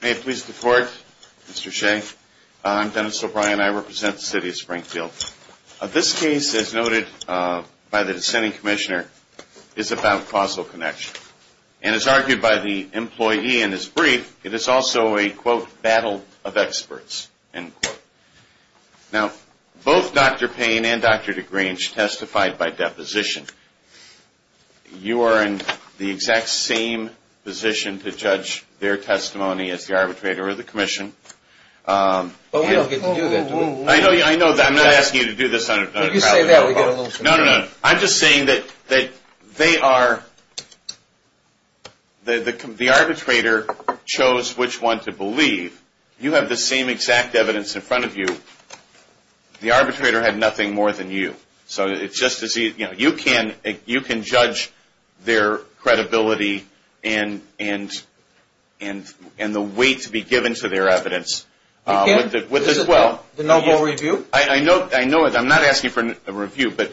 May it please the Court, Mr. Shea. I'm Dennis O'Brien. I represent the City of Springfield. This case, as noted by the dissenting Commissioner, is about causal connection. And as argued by the employee in his brief, it is also a, quote, battle of experts, end quote. Now, both Dr. Payne and Dr. DeGrange testified by deposition. You are in the exact same position to judge their testimony as the arbitrator of the commission. But we don't get to do that, do we? I know that. I'm not asking you to do this No, no, no. I'm just saying that they are, the arbitrator chose which one to believe. You have the same exact evidence in front of you. The arbitrator had nothing more than you. So it's just as easy, you know, you can judge their credibility and the weight to be given to their evidence with as well. The noble review? I know it. I'm not asking for a review, but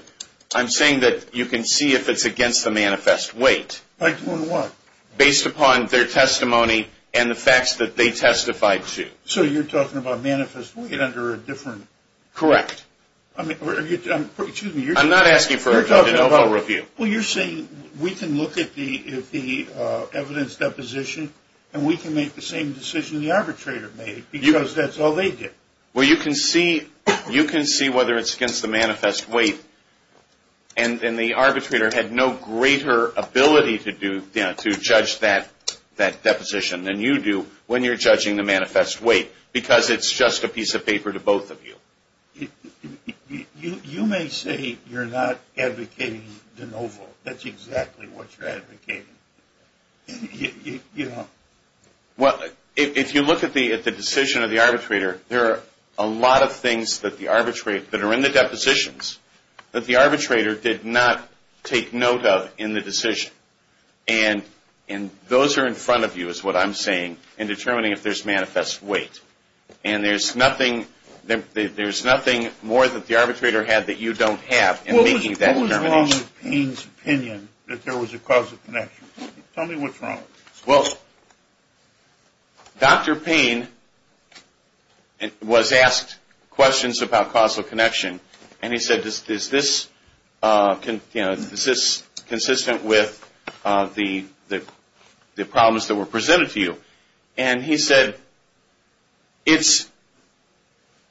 I'm saying that you can see if it's against the manifest weight. By doing what? Based upon their testimony and the facts that they testified to. So you're talking about manifest weight under a different... Correct. I mean, excuse me, you're talking about... I'm not asking for a noble review. Well, you're saying we can look at the evidence deposition and we can make the same decision the arbitrator made because that's all they did. Well, you can see whether it's against the manifest weight and the arbitrator had no greater ability to judge that deposition than you do when you're judging the manifest weight because it's just a piece of paper to both of you. You may say you're not advocating the noble. That's exactly what you're advocating. Well, if you look at the decision of the arbitrator, there are a lot of things that are in the depositions that the arbitrator did not take note of in the decision, and those are in front of you is what I'm saying in determining if there's manifest weight, and there's nothing more that the arbitrator had that you don't have in making that determination. What's wrong with Payne's opinion that there was a causal connection? Tell me what's wrong. Well, Dr. Payne was asked questions about causal connection, and he said, is this consistent with the problems that were presented to you? And he said, it's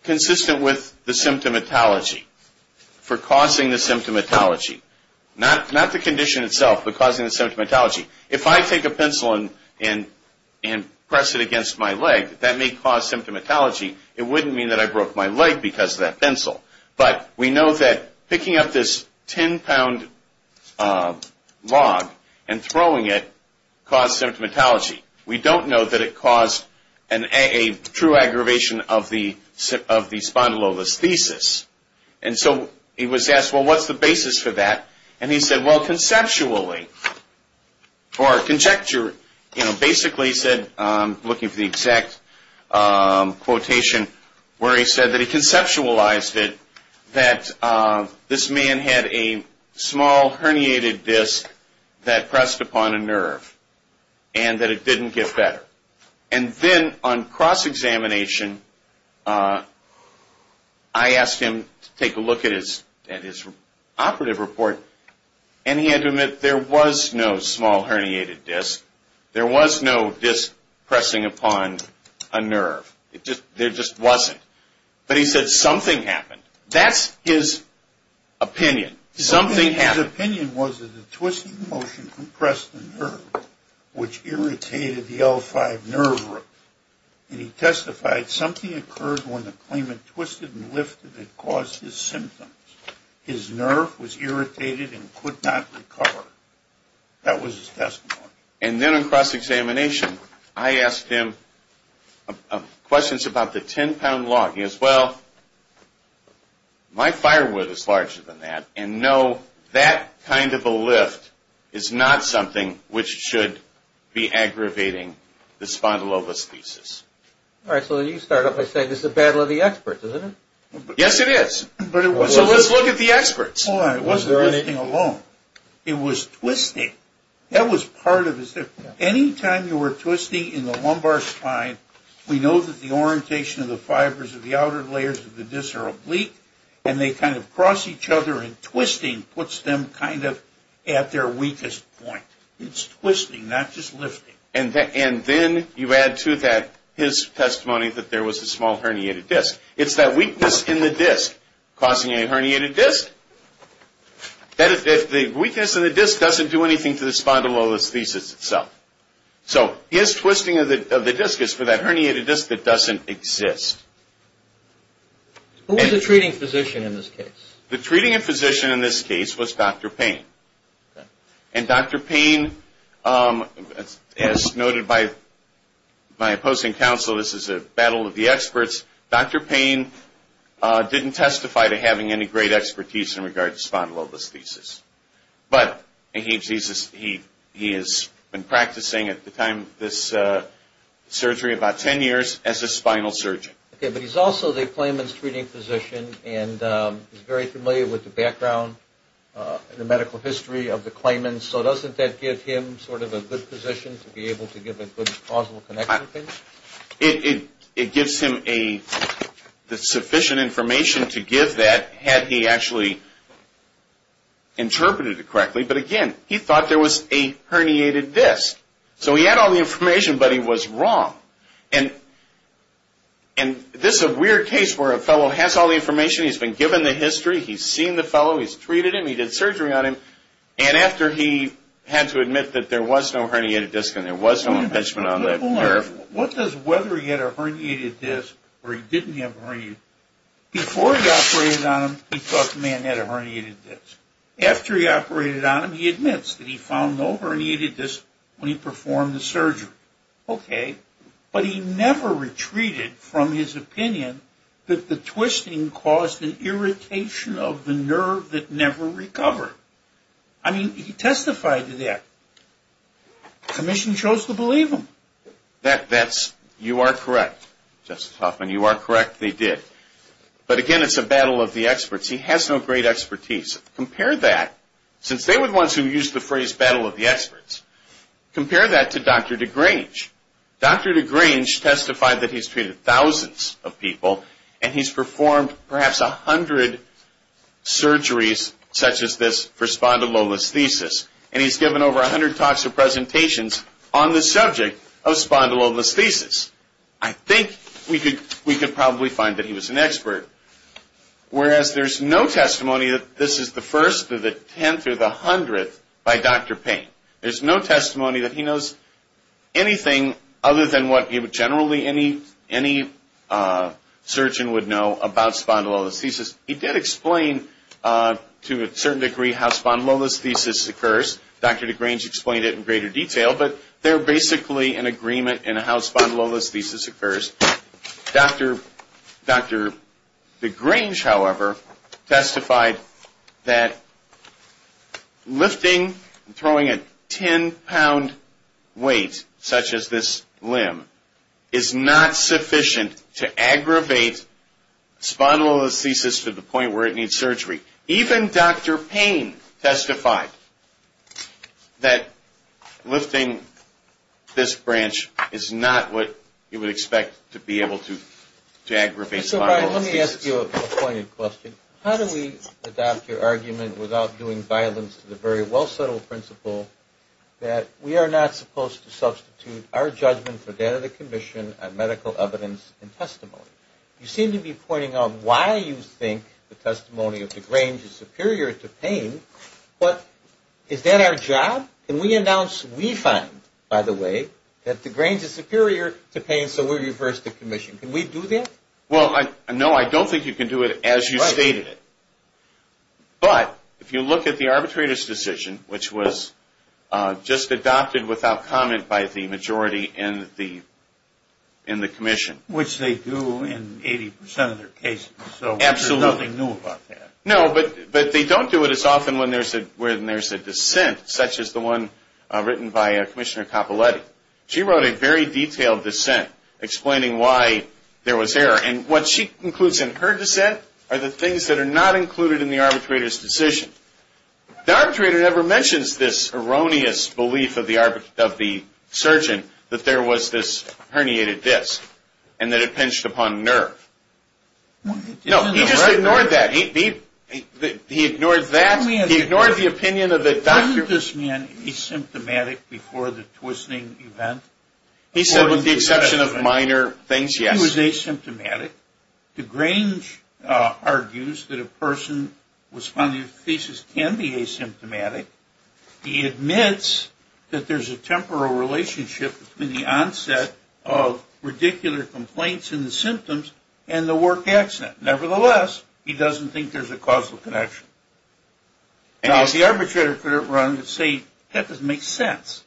consistent with the symptomatology for causing the symptomatology. Not the condition itself, but causing the symptomatology. If I take a pencil and press it against my leg, that may cause symptomatology. It wouldn't mean that I broke my leg because of that pencil. But we know that picking up this 10-pound log and throwing it caused symptomatology. We don't know that it caused a true aggravation of the spondylolisthesis. And so he was asked, well, what's the basis for that? And he said, well, conceptually, or conjecture, basically he said, looking for the exact quotation, where he said that he conceptualized it, that this man had a small herniated disc that pressed upon a nerve, and that it didn't get better. And then on cross-examination, I asked him to take a look at his operative report, and he had to admit there was no small herniated disc. There was no disc pressing upon a nerve. It just, there just wasn't. But he said something happened. That's his opinion. Something happened. His opinion was that the twisting motion compressed the nerve, which irritated the L5 nerve root. And he testified something occurred when the claimant twisted and lifted and caused his symptoms. His nerve was irritated and could not recover. That was his testimony. And then on cross-examination, I asked him questions about the 10-pound log. He goes, well, my firewood is larger than that. And no, that kind of a lift is not something which should be aggravating the spondylolisthesis. All right, so you start off by saying this is a battle of the experts, isn't it? Yes, it is. But it was. So let's look at the experts. Well, it wasn't lifting alone. It was twisting. That was part of it. Any time you were twisting in the lumbar spine, we know that the orientation of the fibers of the outer layers of the disc are oblique, and they kind of cross each other. And twisting puts them kind of at their weakest point. It's twisting, not just lifting. And then you add to that his testimony that there was a small herniated disc. It's that weakness in the disc causing a herniated disc. The weakness in the disc doesn't do anything to the spondylolisthesis itself. So his twisting of the disc is for that herniated disc that doesn't exist. Who was the treating physician in this case? The treating physician in this case was Dr. Payne. And Dr. Payne, as noted by opposing counsel, this is a battle of the experts, Dr. Payne didn't testify to having any great expertise in regard to spondylolisthesis. But he has been practicing at the time of this surgery about 10 years as a spinal surgeon. Okay, but he's also the claimant's treating physician, and he's very familiar with the background and the medical history of the claimant. So doesn't that give him sort of a good position to be able to give a good plausible connection to him? It gives him the sufficient information to give that had he actually interpreted it correctly. But again, he thought there was a herniated disc. So he had all the information, but he was wrong. And this is a weird case where a fellow has all the information, he's been given the history, he's seen the fellow, he's treated him, he did surgery on him, and after he had to admit that there was no herniated disc and there was no infection on the nerve. What does whether he had a herniated disc or he didn't have a herniated disc? Before he operated on him, he thought the man had a herniated disc. After he operated on him, he admits that he found no herniated disc when he performed the surgery. Okay, but he never retreated from his opinion that the twisting caused an irritation of the nerve that never recovered. I mean, he testified to that. Commission chose to believe him. That's, you are correct, Justice Hoffman, you are correct, they did. But again, it's a battle of the experts. He has no great expertise. Compare that, since they were the ones who used the phrase battle of the experts, compare that to Dr. DeGrange. Dr. DeGrange testified that he's treated thousands of people, and he's performed perhaps 100 surgeries such as this for spondylolisthesis. And he's given over 100 talks or presentations on the subject of spondylolisthesis. I think we could probably find that he was an expert. Whereas there's no testimony that this is the first or the 10th or the 100th by Dr. Payne. There's no testimony that he knows anything other than what generally any surgeon would know about spondylolisthesis. He did explain to a certain degree how spondylolisthesis occurs. Dr. DeGrange explained it in greater detail, but they're basically in agreement in how spondylolisthesis occurs. Dr. DeGrange, however, testified that lifting and throwing a 10-pound weight such as this limb is not sufficient to aggravate spondylolisthesis to the point where it needs surgery. Even Dr. Payne testified that lifting this branch is not what you would expect to be able to aggravate spondylolisthesis. Let me ask you a pointed question. How do we adopt your argument without doing violence to the very well-settled principle that we are not supposed to substitute our judgment for that of the commission on medical evidence and testimony? You seem to be pointing out why you think the testimony of DeGrange is superior to Payne, but is that our job? Can we announce we find, by the way, that DeGrange is superior to Payne so we reverse the commission? Can we do that? Well, no, I don't think you can do it as you stated it. But, if you look at the arbitrator's decision, which was just adopted without comment by the majority in the commission. Which they do in 80% of their cases, so there's nothing new about that. No, but they don't do it as often when there's a dissent, such as the one written by Commissioner Cappelletti. She wrote a very detailed dissent explaining why there was error. And what she concludes in her dissent are the things that are not included in the arbitrator's decision. The arbitrator never mentions this erroneous belief of the surgeon that there was this herniated disc and that it pinched upon nerve. No, he just ignored that, he ignored that, he ignored the opinion of the doctor. Wasn't this man asymptomatic before the twisting event? He said with the exception of minor things, yes. He was asymptomatic. DeGrange argues that a person responding to the thesis can be asymptomatic. He admits that there's a temporal relationship between the onset of radicular complaints and the symptoms and the work accident. Nevertheless, he doesn't think there's a causal connection. Now, if the arbitrator could have run and say, that doesn't make sense.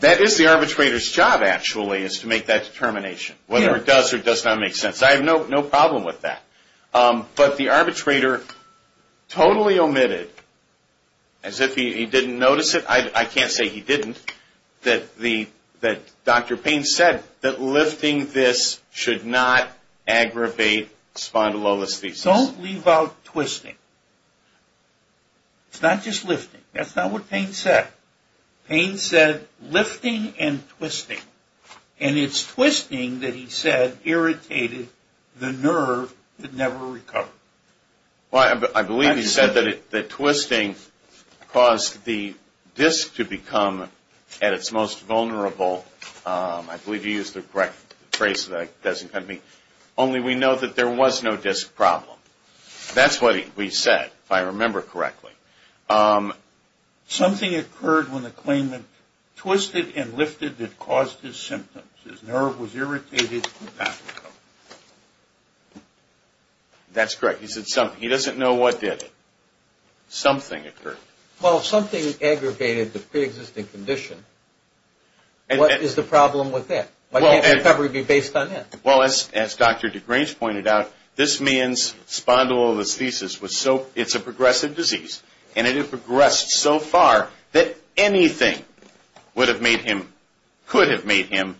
That is the arbitrator's job, actually, is to make that determination, whether it does or does not make sense. I have no problem with that. But the arbitrator totally omitted, as if he didn't notice it. I can't say he didn't, that Dr. Payne said that lifting this should not aggravate spondylolisthesis. Don't leave out twisting. It's not just lifting. That's not what Payne said. Payne said lifting and twisting. And it's twisting that he said irritated the nerve that never recovered. Well, I believe he said that twisting caused the disc to become at its most vulnerable. I believe he used the correct phrase. Only we know that there was no disc problem. That's what he said, if I remember correctly. Something occurred when the claimant twisted and lifted that caused his symptoms. His nerve was irritated. That's correct. He said something. He doesn't know what did. Something occurred. Well, if something aggravated the preexisting condition, what is the problem with that? Why can't recovery be based on that? Well, as Dr. DeGrange pointed out, this man's spondylolisthesis, it's a progressive disease. And it had progressed so far that anything would have made him, could have made him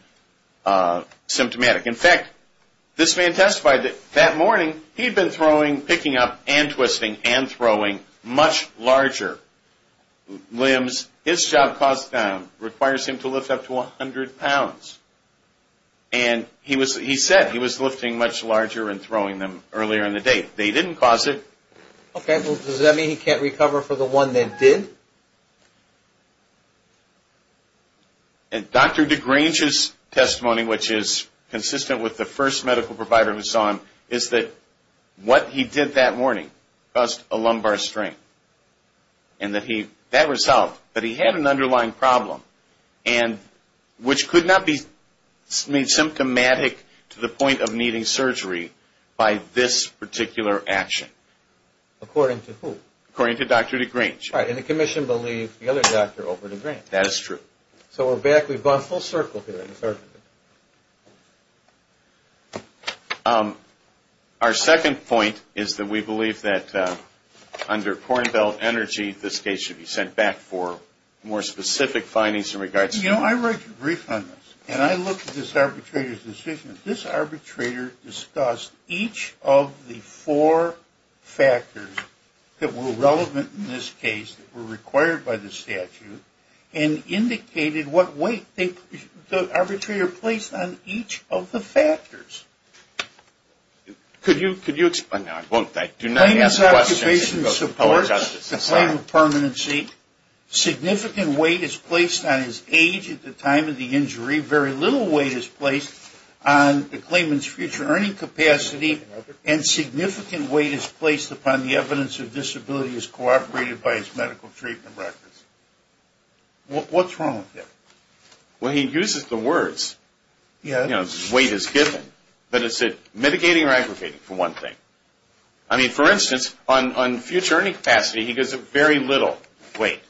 symptomatic. In fact, this man testified that that morning he had been throwing, picking up, and twisting, and throwing much larger limbs. His job caused him, requires him to lift up to 100 pounds. And he said he was lifting much larger and throwing them earlier in the day. They didn't cause it. Okay. Does that mean he can't recover for the one that did? And Dr. DeGrange's testimony, which is consistent with the first medical provider who saw him, is that what he did that morning caused a lumbar strain. And that he, that resolved. But he had an underlying problem, and, which could not be made symptomatic to the point of needing surgery by this particular action. According to who? According to Dr. DeGrange. Right. And the commission believed the other doctor over DeGrange. That is true. So we're back. We've gone full circle here. Our second point is that we believe that under Kornfeld Energy, this case should be sent back for more specific findings in regards to. You know, I wrote a brief on this. And I looked at this arbitrator's decision. This arbitrator discussed each of the four factors that were relevant in this case that were required by the statute. And indicated what weight the arbitrator placed on each of the factors. Could you explain that? I won't. I do not ask questions. Plaintiff's occupation supports the claim of permanency. Significant weight is placed on his age at the time of the injury. Very little weight is placed on the claimant's future earning capacity. And significant weight is placed upon the evidence of disability as cooperated by his medical treatment records. What's wrong with that? Well, he uses the words, you know, weight is given. But is it mitigating or aggregating, for one thing? I mean, for instance, on future earning capacity, he gives a very little weight.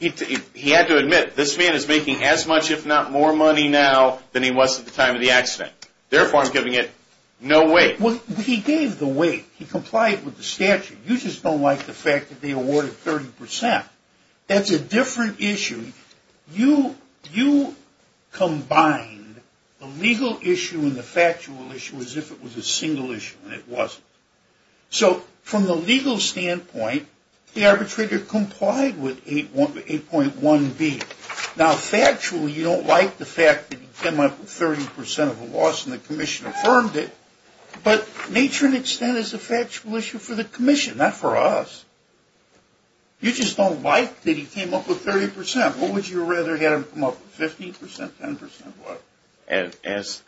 He had to admit, this man is making as much if not more money now than he was at the time of the accident. Therefore, I'm giving it no weight. Well, he gave the weight. He complied with the statute. You just don't like the fact that they awarded 30%. That's a different issue. You combined the legal issue and the factual issue as if it was a single issue. And it wasn't. So from the legal standpoint, the arbitrator complied with 8.1B. Now, factually, you don't like the fact that he came up with 30% of the loss and the commission affirmed it. But nature and extent is a factual issue for the commission, not for us. You just don't like that he came up with 30%. What would you rather have him come up with, 15%, 10%?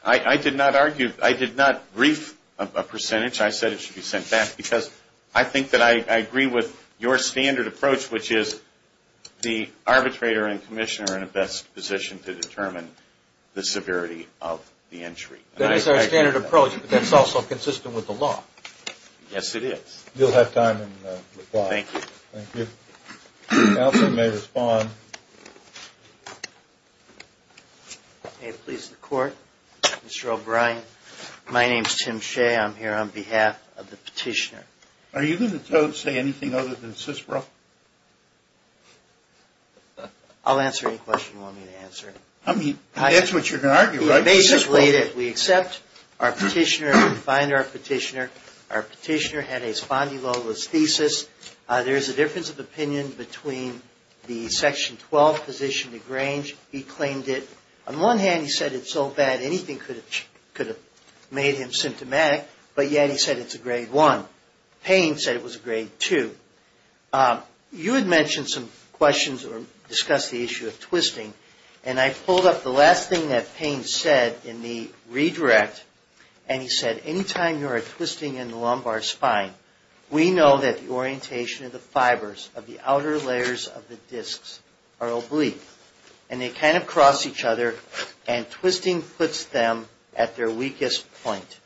I did not brief a percentage. I said it should be sent back because I think that I agree with your standard approach, which is the arbitrator and commissioner are in a best position to determine the severity of the injury. That is our standard approach, but that's also consistent with the law. Yes, it is. You'll have time in reply. Thank you. Thank you. Counsel may respond. Mr. O'Brien, my name is Tim Shea. I'm here on behalf of the petitioner. Are you going to say anything other than CISPRO? I'll answer any question you want me to answer. I mean, that's what you're going to argue, right? The basis laid it. We accept our petitioner. We find our petitioner. Our petitioner had a spondylolisthesis. There is a difference of opinion between the Section 12 position to Grange. He claimed it. On the one hand, he said it's so bad anything could have made him symptomatic, but yet he said it's a grade one. Payne said it was a grade two. You had mentioned some questions or discussed the issue of twisting, and I pulled up the last thing that Payne said in the redirect, and he said, anytime you are twisting in the lumbar spine, we know that the orientation of the fibers of the outer layers of the discs are oblique, and they kind of cross each other, and twisting puts them at their weakest point.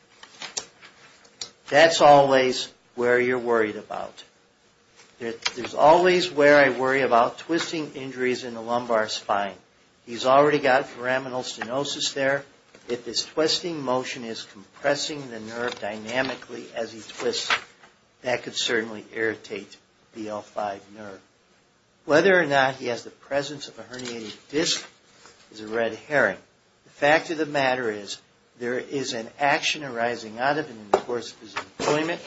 That's always where you're worried about. There's always where I worry about twisting injuries in the lumbar spine. He's already got pyramidal stenosis there. If this twisting motion is compressing the nerve dynamically as he twists, that could certainly irritate the L5 nerve. Whether or not he has the presence of a herniated disc is a red herring. The fact of the matter is there is an action arising out of it in the course of his employment,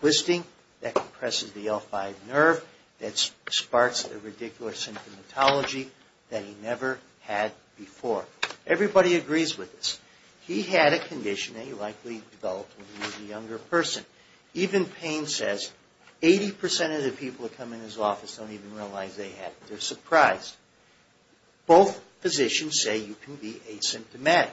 twisting, that compresses the L5 nerve, that sparks a ridiculous symptomatology that he never had before. Everybody agrees with this. He had a condition that he likely developed when he was a younger person. Even Payne says 80% of the people that come in his office don't even realize they have it. They're surprised. Both physicians say you can be asymptomatic.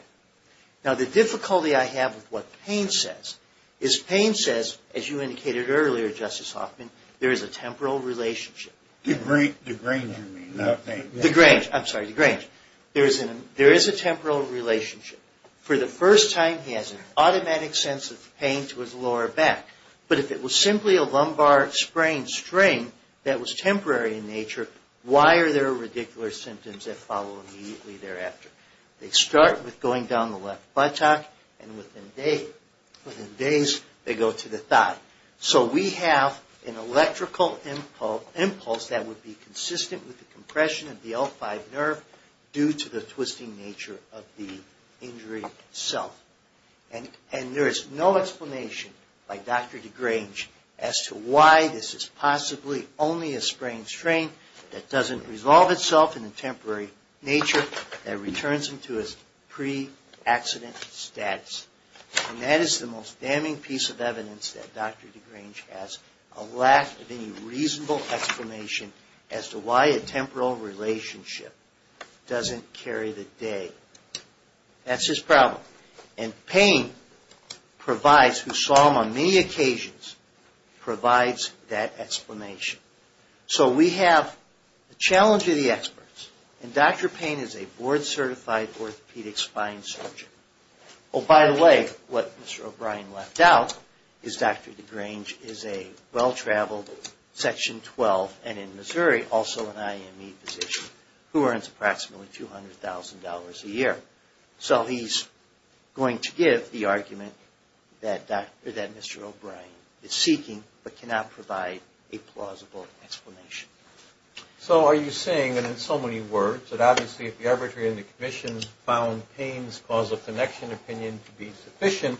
Now, the difficulty I have with what Payne says is Payne says, as you indicated earlier, Justice Hoffman, there is a temporal relationship. De Grange, you mean, not Payne. De Grange. I'm sorry, De Grange. There is a temporal relationship. For the first time, he has an automatic sense of pain to his lower back. But if it was simply a lumbar sprain strain that was temporary in nature, why are there ridiculous symptoms that follow immediately thereafter? They start with going down the left buttock, and within days, they go to the thigh. So we have an electrical impulse that would be consistent with the L5 nerve due to the twisting nature of the injury itself. And there is no explanation by Dr. De Grange as to why this is possibly only a sprain strain that doesn't resolve itself in the temporary nature that returns him to his pre-accident status. And that is the most damning piece of evidence that Dr. De Grange has, a lack of any reasonable explanation as to why a temporal relationship doesn't carry the day. That's his problem. And Payne provides, who saw him on many occasions, provides that explanation. So we have the challenge of the experts, and Dr. Payne is a board-certified orthopedic spine surgeon. Oh, by the way, what Mr. O'Brien left out is Dr. De Grange is a well-traveled Section 12, and in Missouri, also an IME physician, who earns approximately $200,000 a year. So he's going to give the argument that Mr. O'Brien is seeking but cannot provide a plausible explanation. So are you saying that in so many words, that obviously, if the arbitrator and the commission found Payne's causal connection opinion to be sufficient,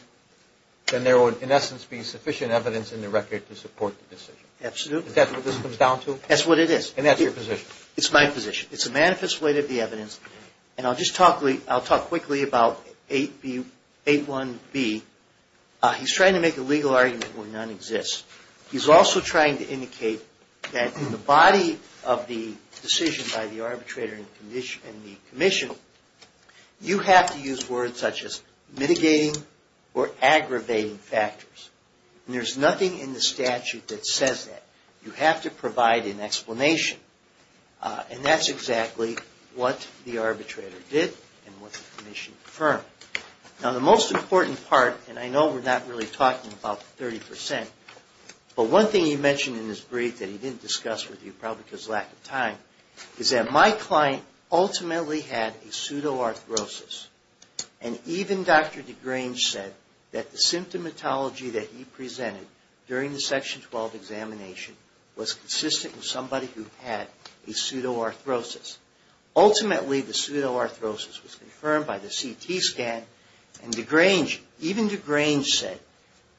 then there would, in essence, be sufficient evidence in the record to support the decision? Absolutely. Is that what this comes down to? That's what it is. And that's your position? It's my position. It's a manifest weight of the evidence. And I'll just talk quickly about 8.1b. He's trying to make a legal argument where none exists. He's also trying to indicate that the body of the decision by the arbitrator and the commission, you have to use words such as mitigating or aggravating factors. And there's nothing in the statute that says that. You have to provide an explanation. And that's exactly what the arbitrator did and what the commission confirmed. Now, the most important part, and I know we're not really talking about 30%, but one thing he mentioned in his brief that he didn't discuss with you, probably because of lack of time, is that my client ultimately had a pseudoarthrosis. And even Dr. DeGrange said that the symptomatology that he presented during the Section 12 examination was consistent with somebody who had a pseudoarthrosis. Ultimately, the pseudoarthrosis was confirmed by the CT scan. And DeGrange, even DeGrange said,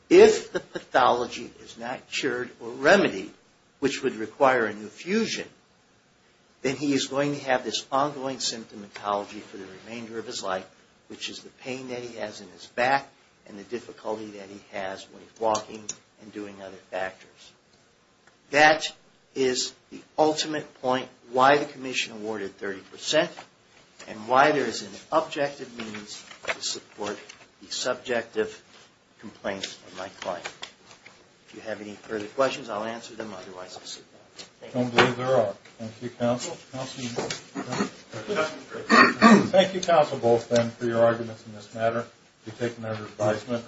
if the pathology is not cured or remedied, which would require a new fusion, then he is going to have this ongoing symptomatology for the remainder of his life, which is the pain that he has in his back and the difficulty that he has when walking and doing other factors. That is the ultimate point why the commission awarded 30% and why there is an objective means to support the subjective complaints of my client. If you have any further questions, I'll answer them. Otherwise, I'll sit down. Thank you. I don't believe there are. Thank you, counsel. Thank you, counsel, both of them, for your arguments in this matter. We take them under advisement.